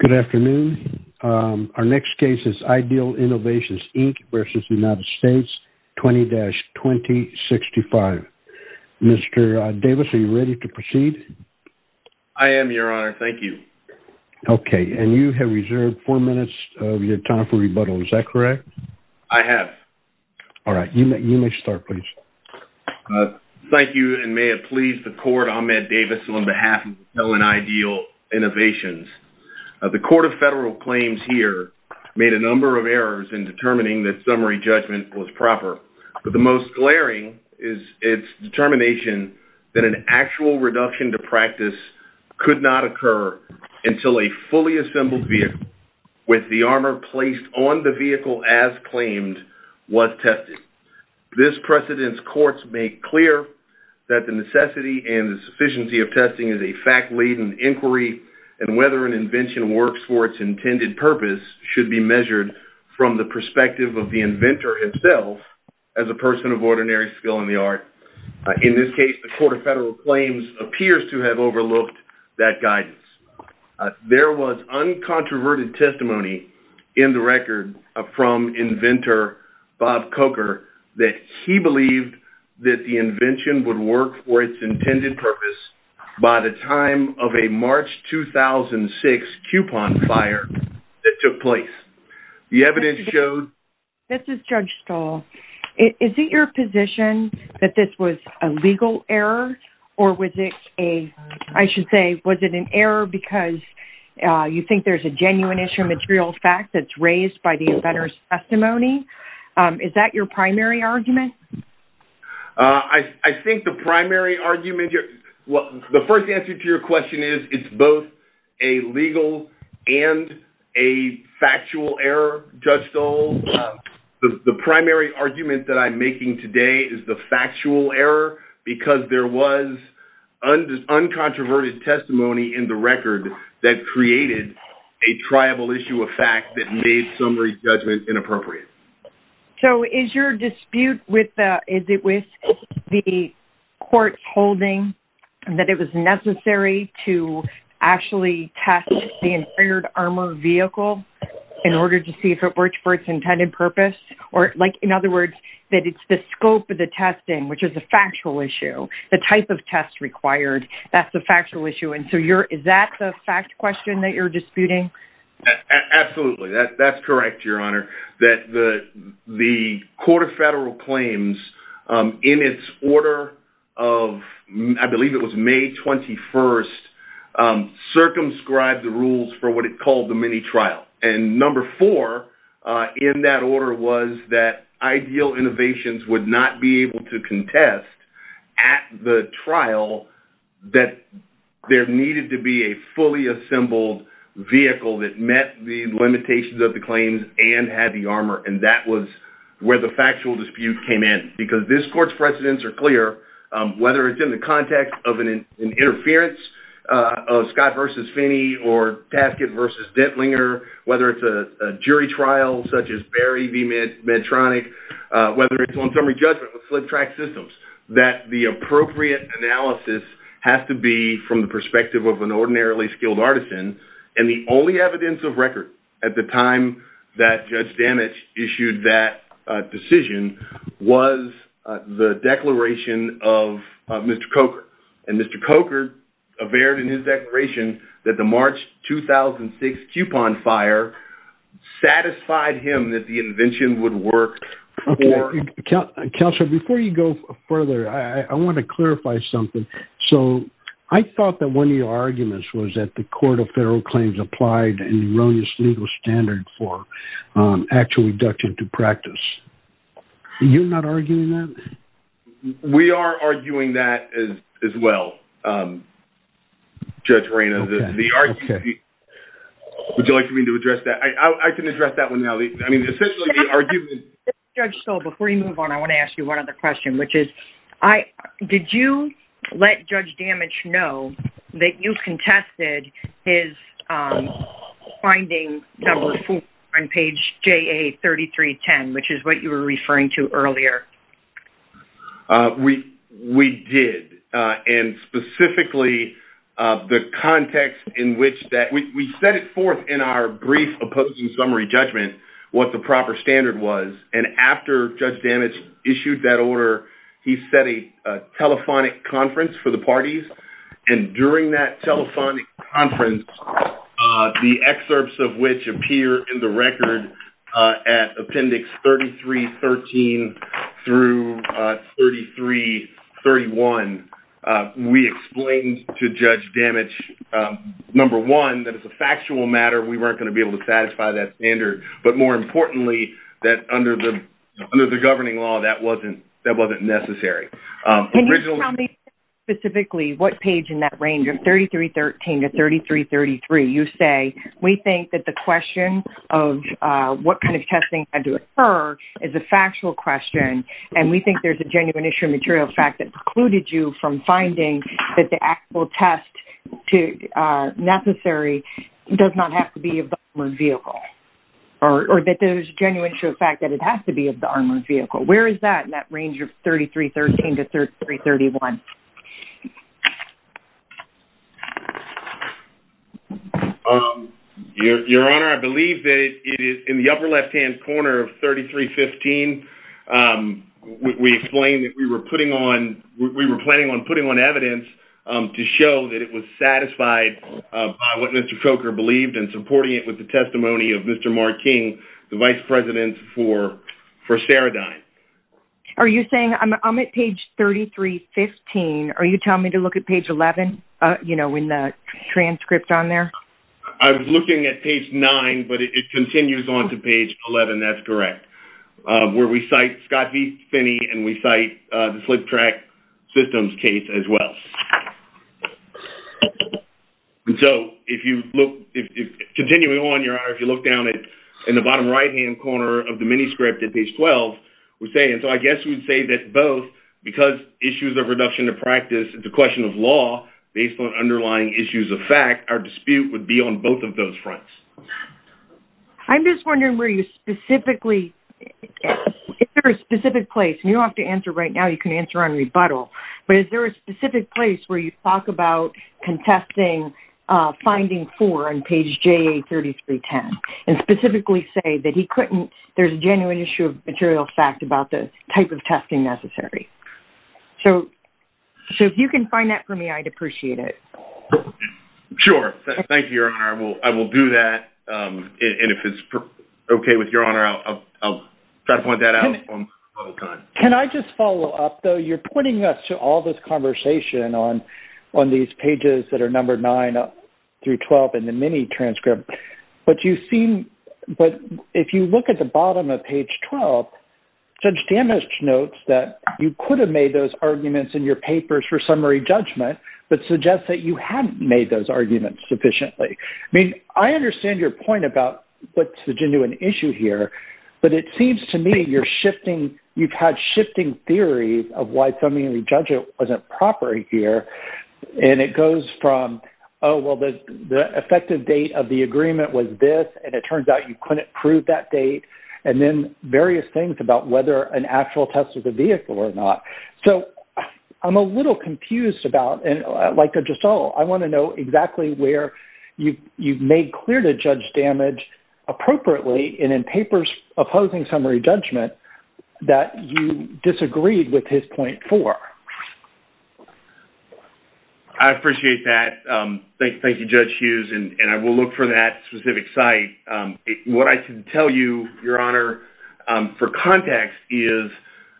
Good afternoon. Our next case is Ideal Innovations, Inc. v. United States 20-2065. Mr. Davis, are you ready to proceed? I am, Your Honor. Thank you. Okay. And you have reserved four minutes of your time for rebuttal. Is that correct? I have. All right. You may start, please. Thank you, and may it please the Court, Ahmed Davis, on behalf of Intel and Ideal Innovations. The Court of Federal Claims here made a number of errors in determining that summary judgment was proper, but the most glaring is its determination that an actual reduction to practice could not occur until a fully assembled vehicle with the armor placed on the vehicle as courts make clear that the necessity and the sufficiency of testing is a fact-laden inquiry, and whether an invention works for its intended purpose should be measured from the perspective of the inventor himself as a person of ordinary skill in the art. In this case, the Court of Federal Claims appears to have overlooked that guidance. There was uncontroverted testimony in the record from inventor Bob Coker that he believed that the invention would work for its intended purpose by the time of a March 2006 coupon fire that took place. The evidence showed- This is Judge Stahl. Is it your position that this was a legal error, or was it a-I should say, was it an error because you think there's a genuine issue of material fact that's raised by the inventor's testimony? Is that your primary argument? I think the primary argument- The first answer to your question is it's both a legal and a factual error, Judge Stahl. The primary argument that I'm making today is the factual error because there was uncontroverted testimony in the record that created a triable issue of fact that made summary judgment inappropriate. So, is your dispute with the Court's holding that it was necessary to actually test the Inferior Armor Vehicle in order to see if it worked for its intended purpose? Or, like, in other words, that it's the scope of the testing, which is a factual issue. The type of test required, that's a factual issue. And so, is that the fact question that you're disputing? Absolutely. That's correct, Your Honor. That the Court of Federal Claims, in its order of-I believe it was May 21st-circumscribed the rules for what it called the mini trial. And number four in that order was that ideal innovations would not be able to contest at the trial that there needed to be a fully assembled vehicle that met the limitations of the claims and had the armor. And that was where the factual dispute came in. Because this Court's precedents are clear, whether it's in the context of an interference of Scott v. Finney or Taskett v. Dentlinger, whether it's a jury trial such as whether it's on summary judgment with slip track systems, that the appropriate analysis has to be from the perspective of an ordinarily skilled artisan. And the only evidence of record at the time that Judge Damage issued that decision was the declaration of Mr. Coker. And Mr. Coker averred in his declaration that the March 2006 Coupon Fire satisfied him that invention would work for- Counselor, before you go further, I want to clarify something. So I thought that one of your arguments was that the Court of Federal Claims applied an erroneous legal standard for actual reduction to practice. You're not arguing that? We are arguing that as well, Judge Reina. Would you like me to address that? I can argue- Judge Stoll, before you move on, I want to ask you one other question, which is, did you let Judge Damage know that you contested his finding number four on page JA3310, which is what you were referring to earlier? We did. And specifically, the context in which that- we set it forth in our brief opposing summary judgment, what the proper standard was. And after Judge Damage issued that order, he set a telephonic conference for the parties. And during that telephonic conference, the excerpts of which appear in the record at appendix 3313 through 3331, we explained to Judge Damage, number one, that it's a factual matter. We weren't going to be able to satisfy that standard. But more importantly, that under the governing law, that wasn't necessary. Can you tell me specifically what page in that range of 3313 to 3333 you say, we think that the question of what kind of testing had to occur is a factual question. And we think there's a genuine issue of material fact that the actual test necessary does not have to be of the armored vehicle. Or that there's a genuine issue of fact that it has to be of the armored vehicle. Where is that in that range of 3313 to 3331? Your Honor, I believe that it is in the upper left-hand corner of 3315. We explained that we were planning on putting on evidence to show that it was satisfied by what Mr. Coker believed and supporting it with the testimony of Mr. Martin, the Vice President for Ceridine. Are you saying, I'm at page 3315. Are you telling me to look at page 11, in the transcript on there? I was looking at page nine, but it continues on to page 11. That's correct. Where we cite Scott V. Finney, and we cite the slip track systems case as well. And so, continuing on, Your Honor, if you look down in the bottom right-hand corner of the mini script at page 12, we're saying, so I guess we'd say that both, because issues of reduction of practice, the question of law, based on underlying issues of fact, our dispute would be on both of those fronts. I'm just wondering where you specifically, is there a specific place, and you don't have to answer right now, you can answer on rebuttal, but is there a specific place where you talk about contesting finding four on page JA3310, and specifically say that he couldn't, there's a genuine issue of material fact about the type of testing necessary. So, if you can find that for me, I'd appreciate it. Sure. Thank you, Your Honor. I will do that. And if it's okay with Your Honor, I'll try to point that out. Can I just follow up, though? You're pointing us to all this conversation on these pages that are number nine through 12 in the mini transcript. But you seem, but if you look at the bottom of page 12, Judge Danisch notes that you could have made those arguments in your papers for summary judgment, but suggests that you haven't made those arguments sufficiently. I mean, I understand your point about what's the genuine issue here, but it seems to me you're shifting, you've had shifting theories of why summary judgment wasn't proper here. And it goes from, oh, well, the effective date of the agreement was this, and it turns out you couldn't prove that date, and then various things about whether an actual test of the vehicle or not. So, I'm a little confused about, and like Giselle, I want to know exactly where you've made clear to Judge Danisch, appropriately, and in papers opposing summary judgment, that you disagreed with his point four. I appreciate that. Thank you, Judge Hughes, and I will look for that specific site. What I can tell you, Your Honor, for context is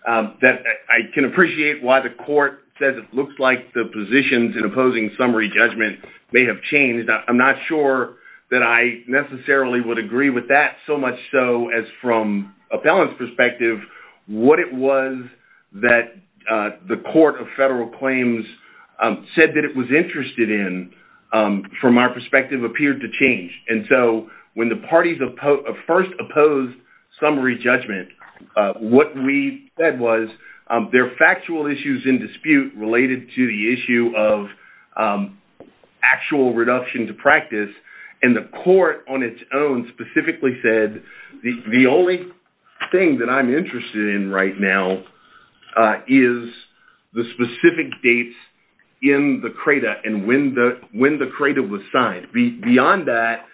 that I can appreciate why the court says it looks like the positions in opposing summary judgment may have changed. I'm not sure that I necessarily would agree with that, so much so as from a balance perspective, what it was that the Court of Federal Claims said that it was interested in, from our perspective, appeared to change. And so, when the parties first opposed summary judgment, what we said was there are factual issues in dispute related to the issue of actual reduction to practice, and the court on its own specifically said the only thing that I'm interested in right now is the specific dates in the CRADA and when the CRADA was signed. Beyond that,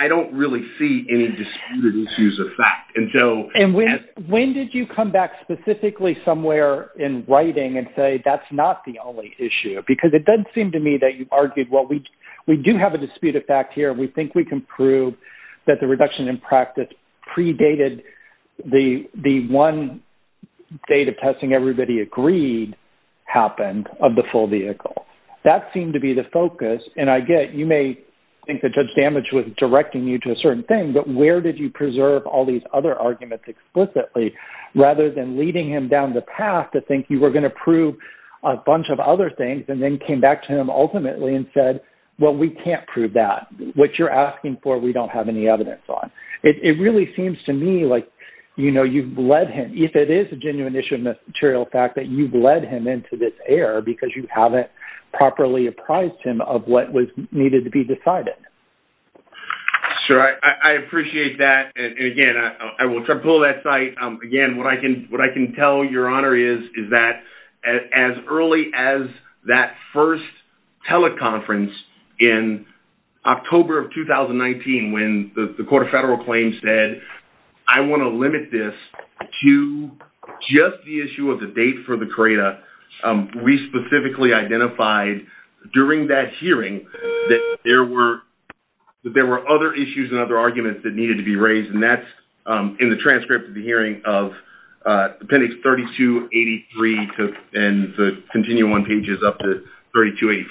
I don't really see any disputed issues of fact. And when did you come back specifically somewhere in writing and say that's not the only issue? Because it does seem to me that you've argued, well, we do have a dispute of fact here. We think we can prove that the reduction in practice predated the one date of testing everybody agreed happened of the full vehicle. That seemed to be the focus, and I get you may think that Judge Damage was directing you to a certain thing, but where did you preserve all these other arguments explicitly rather than leading him down the path to think you were going to prove a bunch of other things and then came back to him ultimately and said, well, we can't prove that. What you're asking for, we don't have any evidence on. It really seems to me like you've led him, if it is a genuine issue of material fact, that you've led him into this air because you haven't properly apprised him of what was needed to be decided. Sure. I appreciate that. And again, I will pull that site. Again, what I can tell you, Your Honor, is that as early as that first teleconference in October of 2019 when the Court of Federal Claims said, I want to limit this to just the issue of the date for the CRADA, we specifically identified during that hearing that there were other issues and other arguments that needed to be raised, and that's in the transcript of the hearing of appendix 3283 and the continuing one pages up to 3285.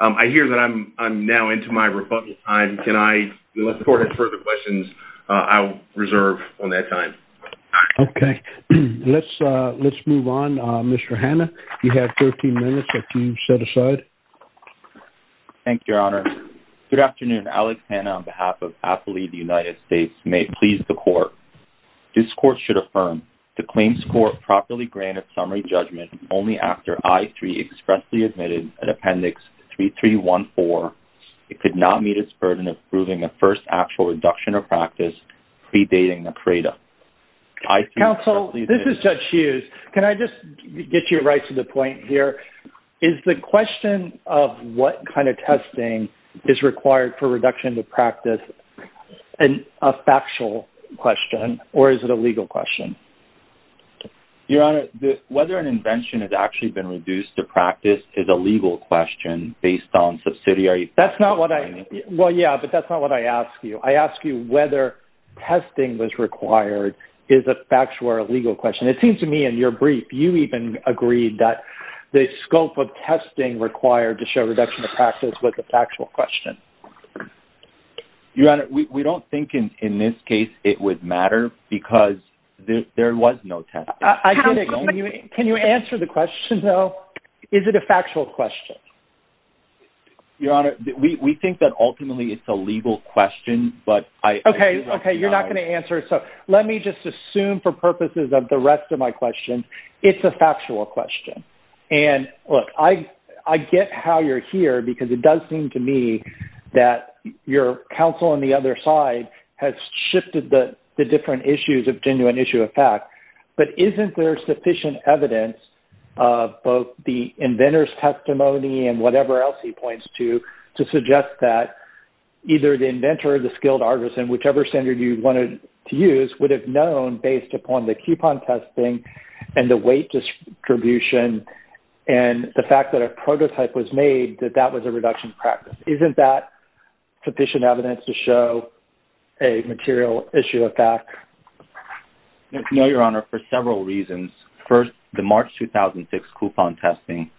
I hear that I'm now into my rebuttal time. Can I, unless the Court has further questions, I will reserve on that time. Okay. Let's move on. Mr. Hanna, you have 13 minutes if you set aside. Thank you, Your Honor. Good afternoon. Alex Hanna on behalf of Appalachian United States may please the Court. This Court should affirm the claims court properly granted summary judgment only after I3 expressly admitted an appendix 3314. It could not meet its burden of proving a first actual reduction of practice predating the CRADA. Counsel, this is Judge Hughes. Can I just get you right to the point here? Is the question of what kind of testing is required for reduction to practice a factual question or is it a legal question? Your Honor, whether an invention has actually been reduced to practice is a legal question based on subsidiary... That's not what I... Well, yeah, but that's not what I asked you. I asked you whether testing was required is a brief. You even agreed that the scope of testing required to show reduction of practice was a factual question. Your Honor, we don't think in this case it would matter because there was no testing. I get it. Can you answer the question though? Is it a factual question? Your Honor, we think that ultimately it's a legal question, but I... Okay. Okay. You're not going to answer. Let me just assume for purposes of the rest of my questions, it's a factual question. Look, I get how you're here because it does seem to me that your counsel on the other side has shifted the different issues of genuine issue of fact, but isn't there sufficient evidence of both the inventor's testimony and whatever else he points to to suggest that either the use would have known based upon the coupon testing and the weight distribution and the fact that a prototype was made that that was a reduction practice. Isn't that sufficient evidence to show a material issue of fact? No, Your Honor, for several reasons. First, the March 2006 coupon testing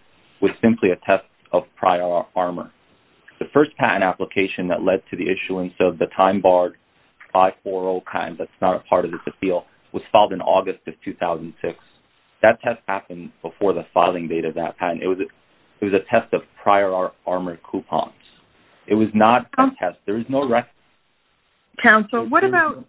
was simply a test of prior armor. The first patent application that led to the issuance of the time barred 540 patent, that's not a part of this appeal, was filed in August of 2006. That test happened before the filing date of that patent. It was a test of prior armor coupons. It was not a test. There is no record... Counsel, what about...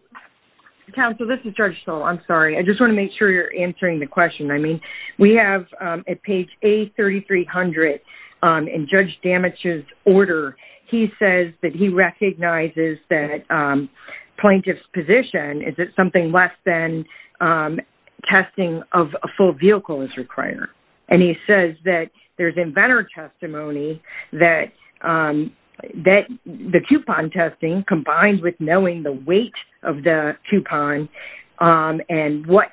Counsel, this is Judge Stoll. I'm sorry. I just want to make sure you're answering the question. I mean, we have at page A3300 in Judge Damich's order, he says that he recognizes that plaintiff's position is that something less than testing of a full vehicle is required. And he says that there's inventor testimony that the coupon testing combined with knowing the weight of the coupon and what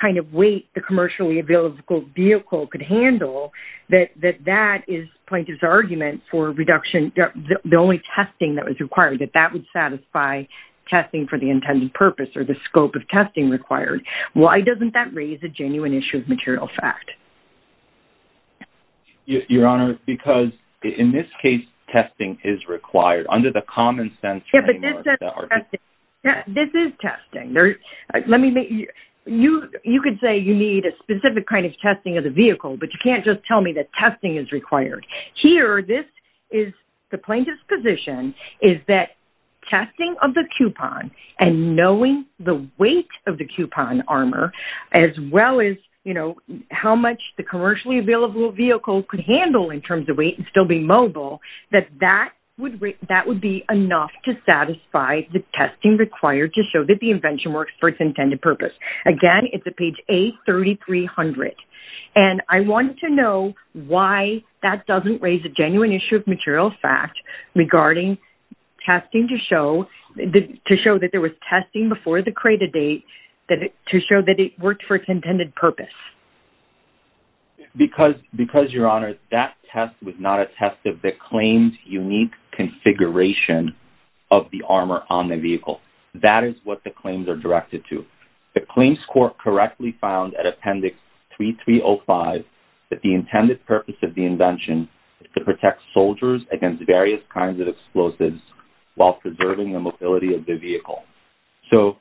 kind of weight the commercially available vehicle could handle, that that is plaintiff's argument for reduction, the only testing that was required, that that would satisfy testing for the intended purpose or the scope of testing required. Why doesn't that raise a genuine issue of material fact? Your Honor, because in this case, testing is required under the common sense... Yeah, this is testing. You could say you need a specific kind of testing of the vehicle, but you can't just tell me that testing is required. Here, this is the plaintiff's position is that testing of the coupon and knowing the weight of the coupon armor, as well as, you know, how much the commercially available vehicle could handle in terms of weight and still be mobile, that that would be enough to satisfy the testing required to show that the invention works for its intended purpose. Again, it's at page A3300. And I want to know why that doesn't raise a genuine issue of material fact regarding testing to show that there was testing before the credit date to show that it worked for its intended purpose. Because, Your Honor, that test was not a test of the claim's unique configuration of the armor on the vehicle. That is what the claims are directed to. The claims court correctly found at Appendix 3305 that the intended purpose of the invention is to protect soldiers against various kinds of explosives while preserving the mobility of the vehicle. So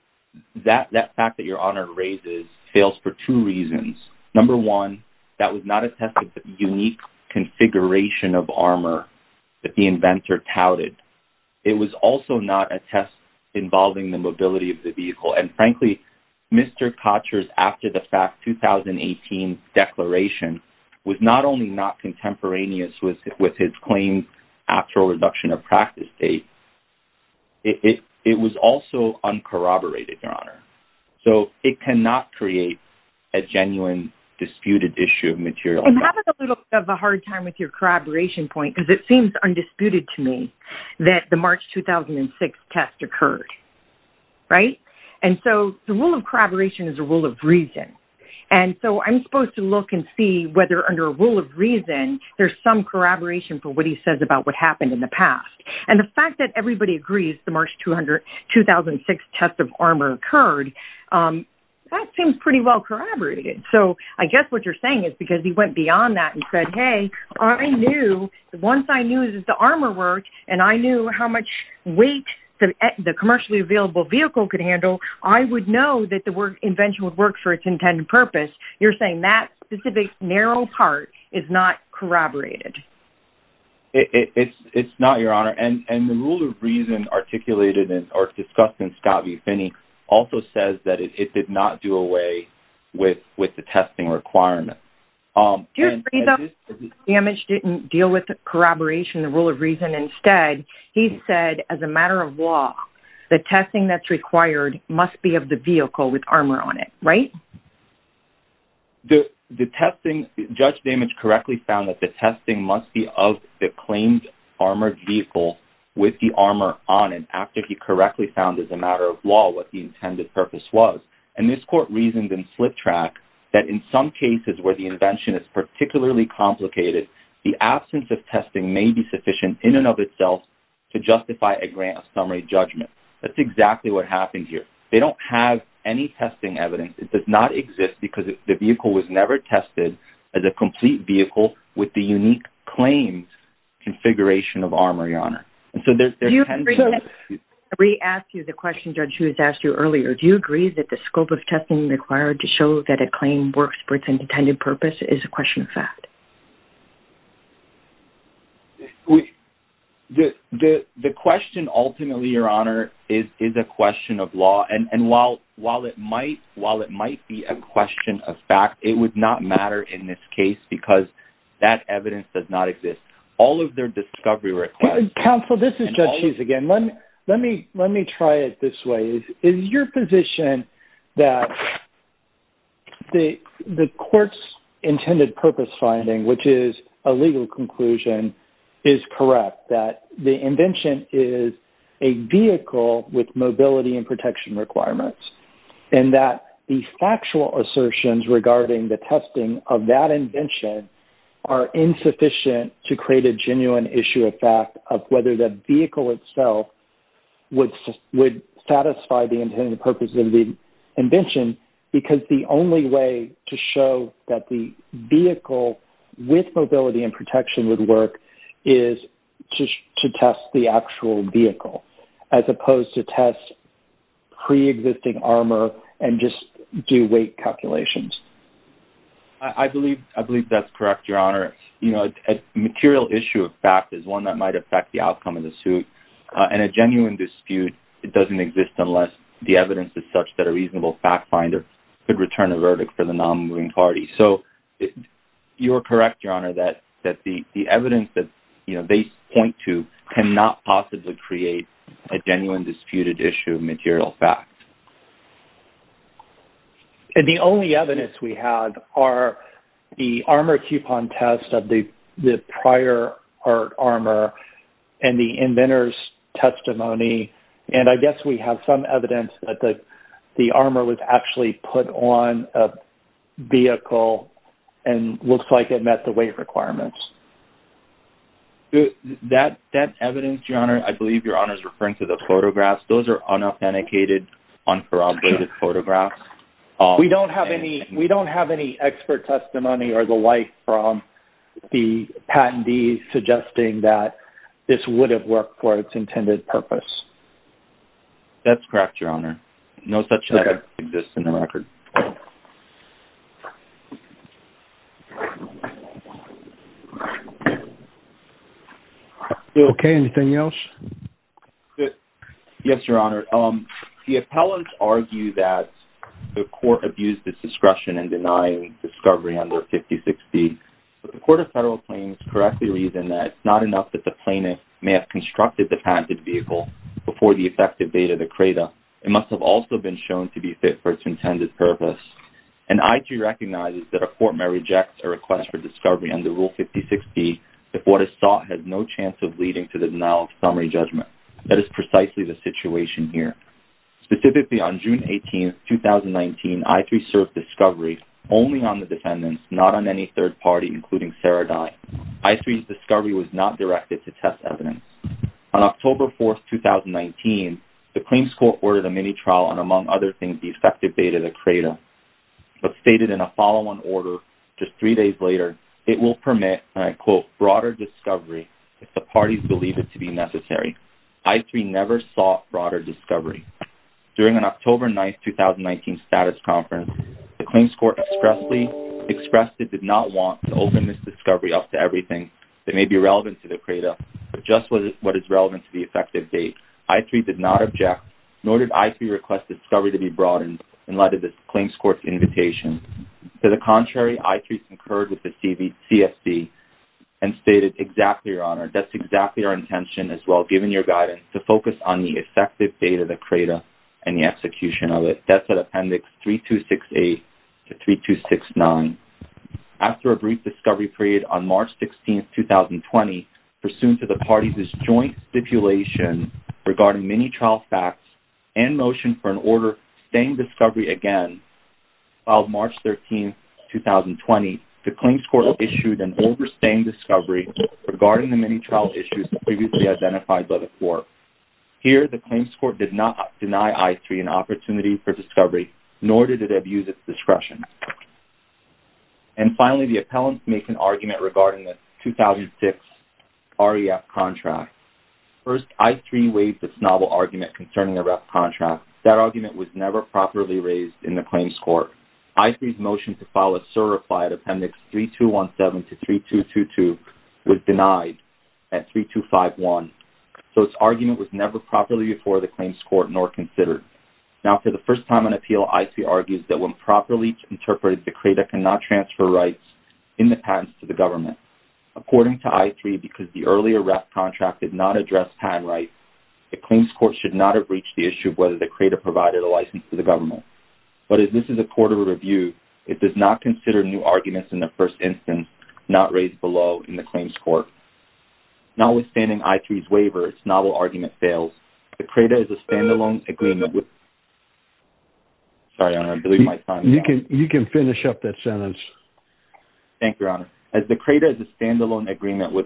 that fact that Your Honor raises fails for two reasons. Number one, that was not a test of the unique configuration of armor that the inventor touted. It was also not a test involving the mobility of the vehicle. And frankly, Mr. Kotcher's after-the-fact 2018 declaration was not only not contemporaneous with his claims after a reduction of practice date, it was also uncorroborated, Your Honor. So it cannot create a genuine disputed issue of material fact. And I'm having a little bit of a hard time with your corroboration point because it seems undisputed to me that the March 2006 test occurred. Right? And so the rule of corroboration is a rule of reason. And so I'm supposed to look and see whether under a rule of reason there's some corroboration for what he says about what everybody agrees the March 2006 test of armor occurred. That seems pretty well corroborated. So I guess what you're saying is because he went beyond that and said, hey, once I knew the armor worked and I knew how much weight the commercially available vehicle could handle, I would know that the invention would work for its intended purpose. You're saying that specific narrow part is not corroborated. It's not, Your Honor. And the rule of reason articulated or discussed in Scott v. Finney also says that it did not do away with the testing requirement. Do you agree that the damage didn't deal with corroboration, the rule of reason? Instead, he said as a matter of law, the testing that's required must be of the vehicle with armor on it. Right? The testing, Judge Damage correctly found that the testing must be of the claimed armored vehicle with the armor on it after he correctly found as a matter of law what the intended purpose was. And this court reasoned in slip track that in some cases where the invention is particularly complicated, the absence of testing may be sufficient in and of itself to justify a grant summary judgment. That's exactly what happened here. They don't have any testing evidence. It does not exist because the vehicle was never tested as a complete vehicle with the unique claims configuration of armor, Your Honor. And so there's... We asked you the question, Judge, who has asked you earlier. Do you agree that the scope of testing required to show that a claim works for its intended purpose is a question of fact? The question ultimately, Your Honor, is a question of law. And while it might be a question of fact, it would not matter in this case because that evidence does not exist. All of their discovery requires... Counsel, this is Judge Cheese again. Let me try it this way. Is your position that the court's intended purpose finding, which is a legal conclusion, is correct that the invention is a vehicle with mobility and protection requirements and that the factual assertions regarding the testing of that invention are insufficient to create a genuine issue of fact of whether the vehicle itself would satisfy the intended purpose of the invention because the only way to show that the vehicle with mobility and protection would work is to test the actual vehicle as opposed to test pre-existing armor and just do weight calculations? I believe that's correct, Your Honor. A material issue of fact is one that might affect the outcome of the suit. In a genuine dispute, it doesn't exist unless the evidence is such that a reasonable fact finder could return a verdict for the non-moving party. So you're correct, Your Honor, that the evidence that they point to cannot possibly create a genuine disputed issue of material fact. The only evidence we have are the armor coupon test of the prior art armor and the inventor's testimony. And I guess we have some evidence that the armor was actually put on a vehicle and looks like it met the weight requirements. That evidence, Your Honor, I believe Your Honor is referring to the photographs. Those are unauthenticated, uncorroborated photographs. We don't have any expert testimony or the like from the patentees suggesting that this would have worked for its intended purpose. That's correct, Your Honor. No such evidence exists in the record. Okay, anything else? Yes, Your Honor. The appellants argue that the court abused its discretion in denying discovery under 5060, but the court of federal claims correctly reason that it's not enough that the plaintiff may have constructed the patented vehicle before the for its intended purpose. And I do recognize that a court may reject a request for discovery under Rule 5060 if what is sought has no chance of leading to the denial of summary judgment. That is precisely the situation here. Specifically on June 18, 2019, I3 served discovery only on the defendants, not on any third party, including Sarah Dye. I3's discovery was not directed to test evidence. On October 4, 2019, the claims court ordered a mini trial on among other things the effective date of the credo, but stated in a follow-on order just three days later, it will permit, and I quote, broader discovery if the parties believe it to be necessary. I3 never sought broader discovery. During an October 9, 2019, status conference, the claims court expressly expressed it did not want to open this discovery up to everything that may be relevant to the credo, but just what is relevant to the effective date. I3 did not nor did I3 request discovery to be broadened in light of the claims court's invitation. To the contrary, I3 concurred with the CFC and stated, exactly, Your Honor, that's exactly our intention as well, given your guidance, to focus on the effective date of the credo and the execution of it. That's at Appendix 3268 to 3269. After a brief discovery period on March 16, 2020, pursuant to the parties' joint stipulation regarding mini trial facts and motion for an order staying discovery again, on March 13, 2020, the claims court issued an order staying discovery regarding the mini trial issues previously identified by the court. Here, the claims court did not deny I3 an opportunity for discovery, nor did it abuse its discretion. And finally, the appellants make an argument regarding the 2006 REF contract. First, I3 waived its novel argument concerning the REF contract. That argument was never properly raised in the claims court. I3's motion to file a certified Appendix 3217 to 3222 was denied at 3251, so its argument was never properly before the claims court nor considered. Now, for the credo, the credo cannot transfer rights in the patents to the government. According to I3, because the earlier REF contract did not address patent rights, the claims court should not have reached the issue of whether the credo provided a license to the government. But as this is a court of review, it does not consider new arguments in the first instance not raised below in the claims court. Notwithstanding I3's waiver, its novel argument fails. The credo is a standalone agreement with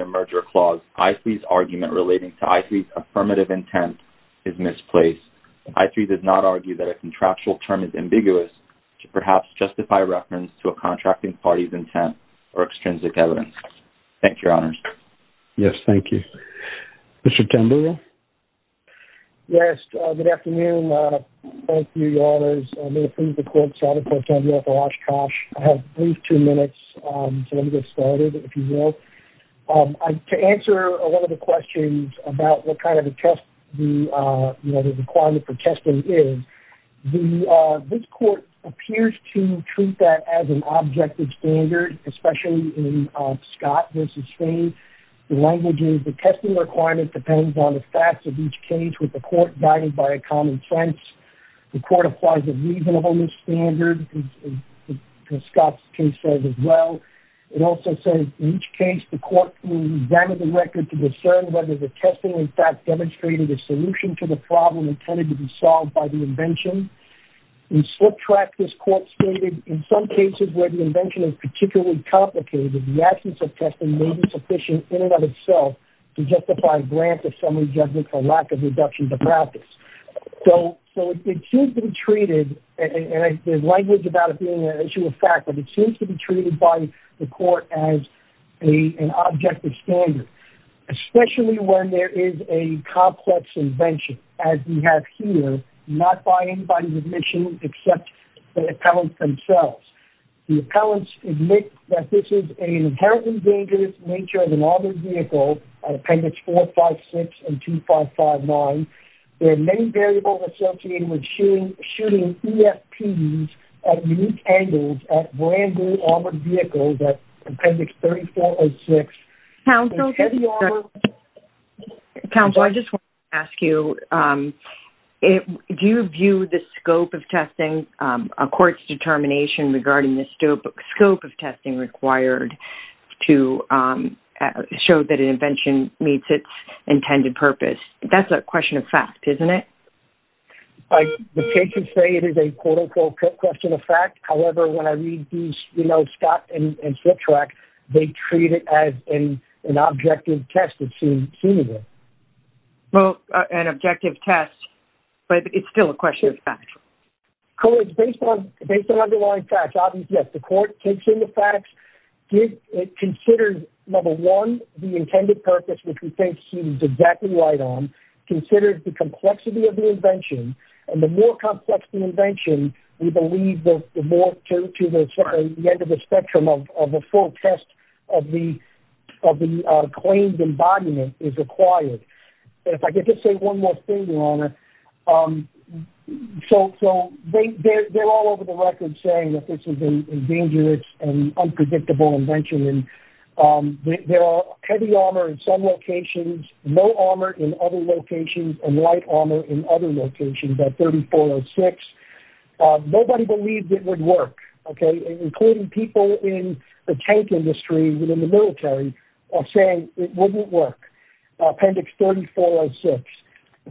a merger clause. I3's argument relating to I3's affirmative intent is misplaced. I3 does not argue that a contractual term is ambiguous to perhaps justify reference to a contracting party's intent or extrinsic evidence. Thank you, Your Honors. Yes, thank you. Mr. Neal, thank you, Your Honors. May it please the court, Senator Pro Tem Urof Oshkosh. I have a brief two minutes, so let me get started, if you will. To answer a lot of the questions about what kind of a test the requirement for testing is, this court appears to treat that as an objective standard, especially in Scott v. Fain. The language is the testing requirement depends on the facts of each case with the court guided by a common sense. The court applies a reasonable standard, as Scott's case says as well. It also says in each case the court examined the record to discern whether the testing in fact demonstrated a solution to the problem intended to be solved by the invention. In slip track, this court stated, in some cases where the invention is particularly complicated, the absence of testing may be sufficient in and of itself to justify a grant of summary judgment for lack of reduction to practice. So it seems to be treated, and there's language about it being an issue of fact, but it seems to be treated by the court as an objective standard, especially when there is a complex invention, as we have here, not by anybody's admission except the appellants themselves. The appellants admit that this is an inherently dangerous nature of an armored vehicle at appendix 456 and 2559. There are many variables associated with shooting EFPs at unique angles at brand new armored vehicles at appendix 3406. Counsel, I just want to ask you, do you view the scope of testing, a court's determination regarding the scope of testing required to show that an invention meets its intended purpose? That's a question of fact, isn't it? The patients say it is a quote-unquote question of fact. However, when I read these, you know, Scott and slip track, they treat it as an objective test, it seems. Well, an objective test, but it's still a question of fact. Colleagues, based on underlying facts, obviously, yes, the court takes in the facts, considers, number one, the intended purpose, which we think he's exactly right on, considers the complexity of the invention, and the more complex the invention, we believe the more to the end of the spectrum of the full test of the claimed embodiment is required. If I could just say one more thing, Your Honor, so they're all over the record saying that this is a dangerous and unpredictable invention, and there are heavy armor in some locations, low armor in other locations, and light armor in other locations at 3406. Nobody believed it would work, okay, including people in the tank industry and in the military are saying it wouldn't work, appendix 3406.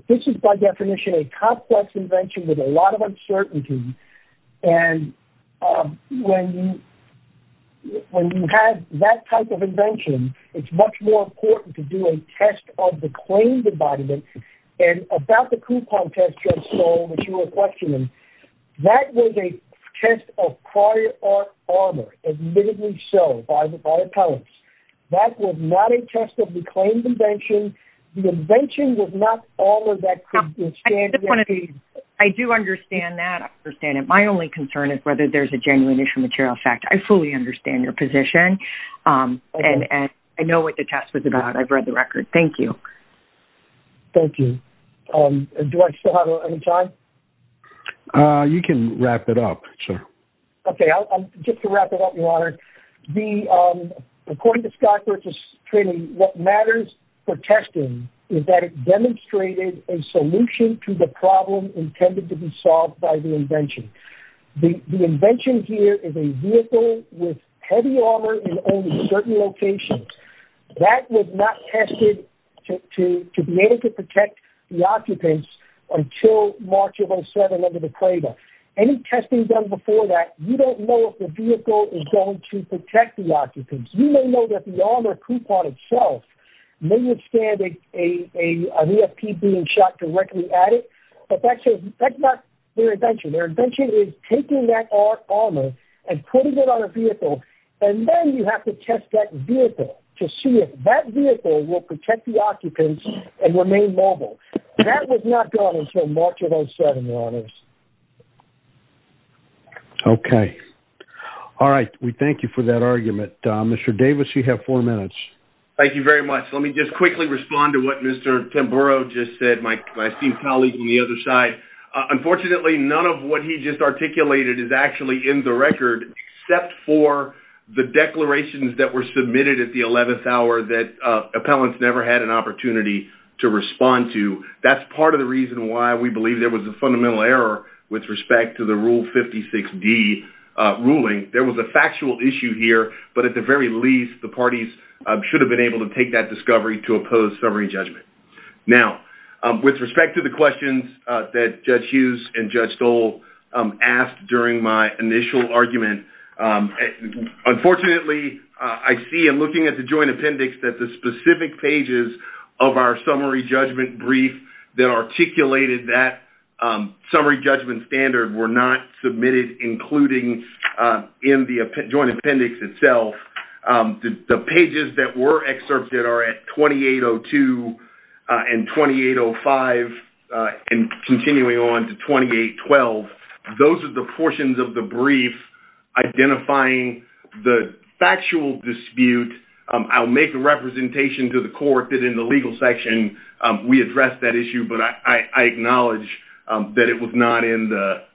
This is, by definition, a complex invention with a lot of uncertainty, and when you have that type of invention, it's much more important to do a test of the claimed embodiment, and about the coupon test just sold, which you were questioning, that was a test of prior art armor, admittedly so, by the appellants. That was not a test of the claimed invention. The invention was not armor that could withstand the impact. I do understand that. I understand it. My only concern is whether there's a genuine issue of material fact. I fully understand your position, and I know what the test was about. I've read the record. Thank you. Thank you. Do I still have any time? You can wrap it up, sir. Okay, I'll just wrap it up, Your Honor. According to Scott Birch's training, what matters for testing is that it demonstrated a solution to the problem intended to be solved by the invention. The invention here is a vehicle with heavy armor in only certain locations. That was not tested to be able to protect the occupants until March of 07 under the cradle. Any testing done before that, you don't know if the vehicle is going to protect the occupants. You may know that the armor coupon itself may withstand a VFP being shot directly at it, but that's not their invention. Their invention is taking that armor and putting it on a vehicle, and then you have to test that vehicle to see if that vehicle will protect the occupants and remain mobile. That was not done until March of 07, Your Honors. Okay. All right. We thank you for that argument. Mr. Davis, you have four minutes. Thank you very much. Let me just quickly respond to what Mr. Tamburo just said, my esteemed colleague on the other side. Unfortunately, none of what he just articulated is actually in the record. The balance never had an opportunity to respond to. That's part of the reason why we believe there was a fundamental error with respect to the Rule 56D ruling. There was a factual issue here, but at the very least, the parties should have been able to take that discovery to oppose summary judgment. Now, with respect to the questions that Judge Hughes and Judge Stoll asked during my initial argument, unfortunately, I see in looking at the joint appendix that the specific pages of our summary judgment brief that articulated that summary judgment standard were not submitted, including in the joint appendix itself. The pages that were excerpted are at 2802 and 2805 and continuing on to 2812. Those are the portions of the brief identifying the factual dispute. I'll make a representation to the court that in the legal section, we addressed that issue, but I acknowledge that it was not in the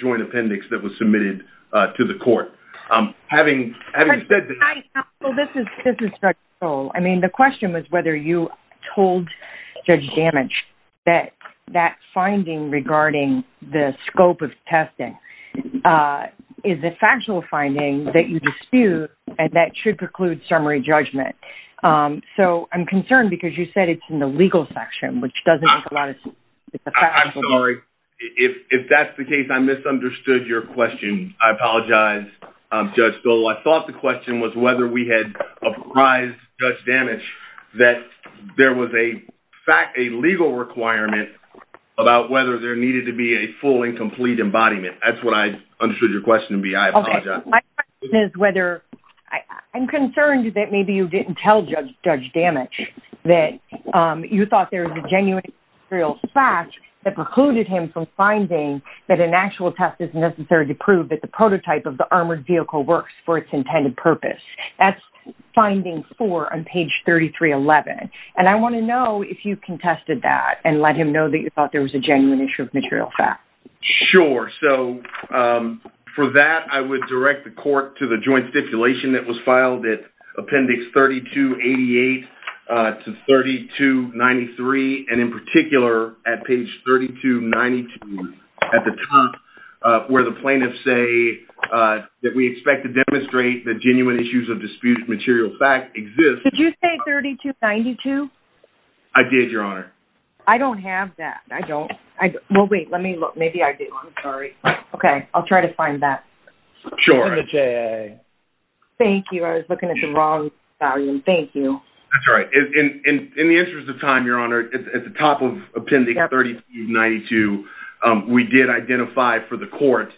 joint appendix that was submitted to the court. This is Judge Stoll. The question was whether you told Judge Damage that that finding regarding the scope of testing is a factual finding that you dispute and that should preclude summary judgment. I'm concerned because you said it's in the legal section, which doesn't make a lot of sense. I'm sorry. If that's the case, I misunderstood your question. I apologize, Judge Stoll. I thought the question was whether we had apprised Judge Damage that there was a legal requirement about whether there needed to be a full and complete embodiment. That's what I understood your question to be. I apologize. I'm concerned that maybe you didn't tell Judge Damage that you thought there was a genuine material fact that precluded him from finding that an actual test is necessary to prove that the prototype of the armored vehicle works for 3311. I want to know if you contested that and let him know that you thought there was a genuine issue of material fact. Sure. For that, I would direct the court to the joint stipulation that was filed at appendix 3288 to 3293, and in particular at page 3292 at the top where the plaintiffs say that we expect to demonstrate that genuine issues of dispute material fact exist. Did you say 3292? I did, Your Honor. I don't have that. I don't. Well, wait. Let me look. Maybe I do. I'm sorry. Okay. I'll try to find that. Sure. Thank you. I was looking at the wrong volume. Thank you. That's right. In the interest of time, Your Honor, at the top of appendix 3292, we did identify for the court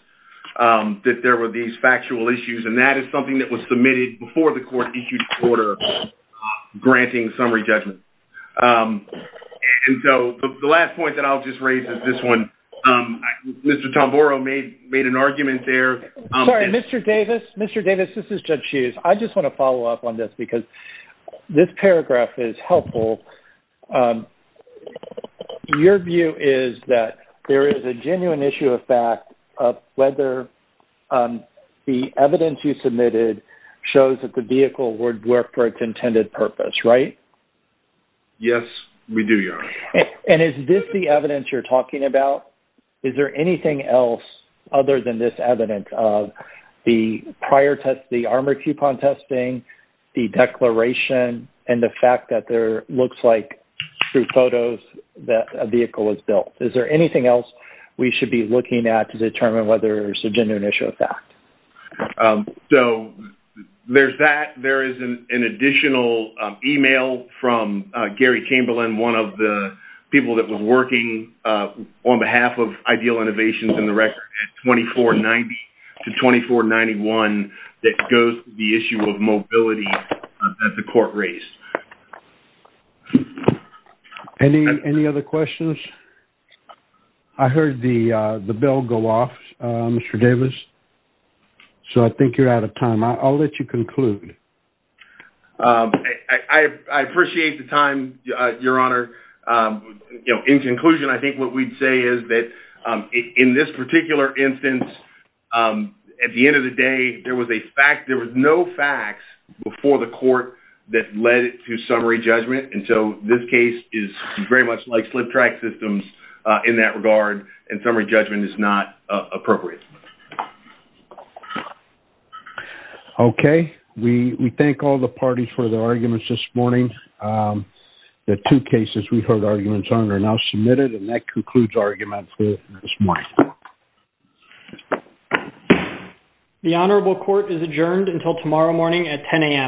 that there were these factual issues, and that is something that was submitted before the court order granting summary judgment. The last point that I'll just raise is this one. Mr. Tamboro made an argument there. Sorry, Mr. Davis. Mr. Davis, this is Judge Hughes. I just want to follow up on this because this paragraph is helpful. Your view is that there is a genuine issue of fact of whether the evidence you submitted shows that the vehicle would work for its intended purpose, right? Yes, we do, Your Honor. Is this the evidence you're talking about? Is there anything else other than this evidence of the armor coupon testing, the declaration, and the fact that there looks like through photos that a vehicle was built? Is there anything else we should be looking at to determine whether it's a genuine issue of fact? Yes. So, there's that. There is an additional email from Gary Camberland, one of the people that was working on behalf of Ideal Innovations in the record at 2490 to 2491 that goes to the issue of mobility that the court raised. Any other questions? I heard the bell go off, Mr. Davis. So, I think you're out of time. I'll let you conclude. I appreciate the time, Your Honor. In conclusion, I think what we'd say is that in this particular instance, at the end of the day, there was no facts before the court that led to summary judgment. And so, this case is very much like slip track systems in that regard, and summary judgment is not appropriate. Okay. We thank all the parties for their arguments this morning. The two cases we heard arguments on are now submitted, and that concludes arguments for this morning. The Honorable Court is adjourned until tomorrow morning at 10 a.m.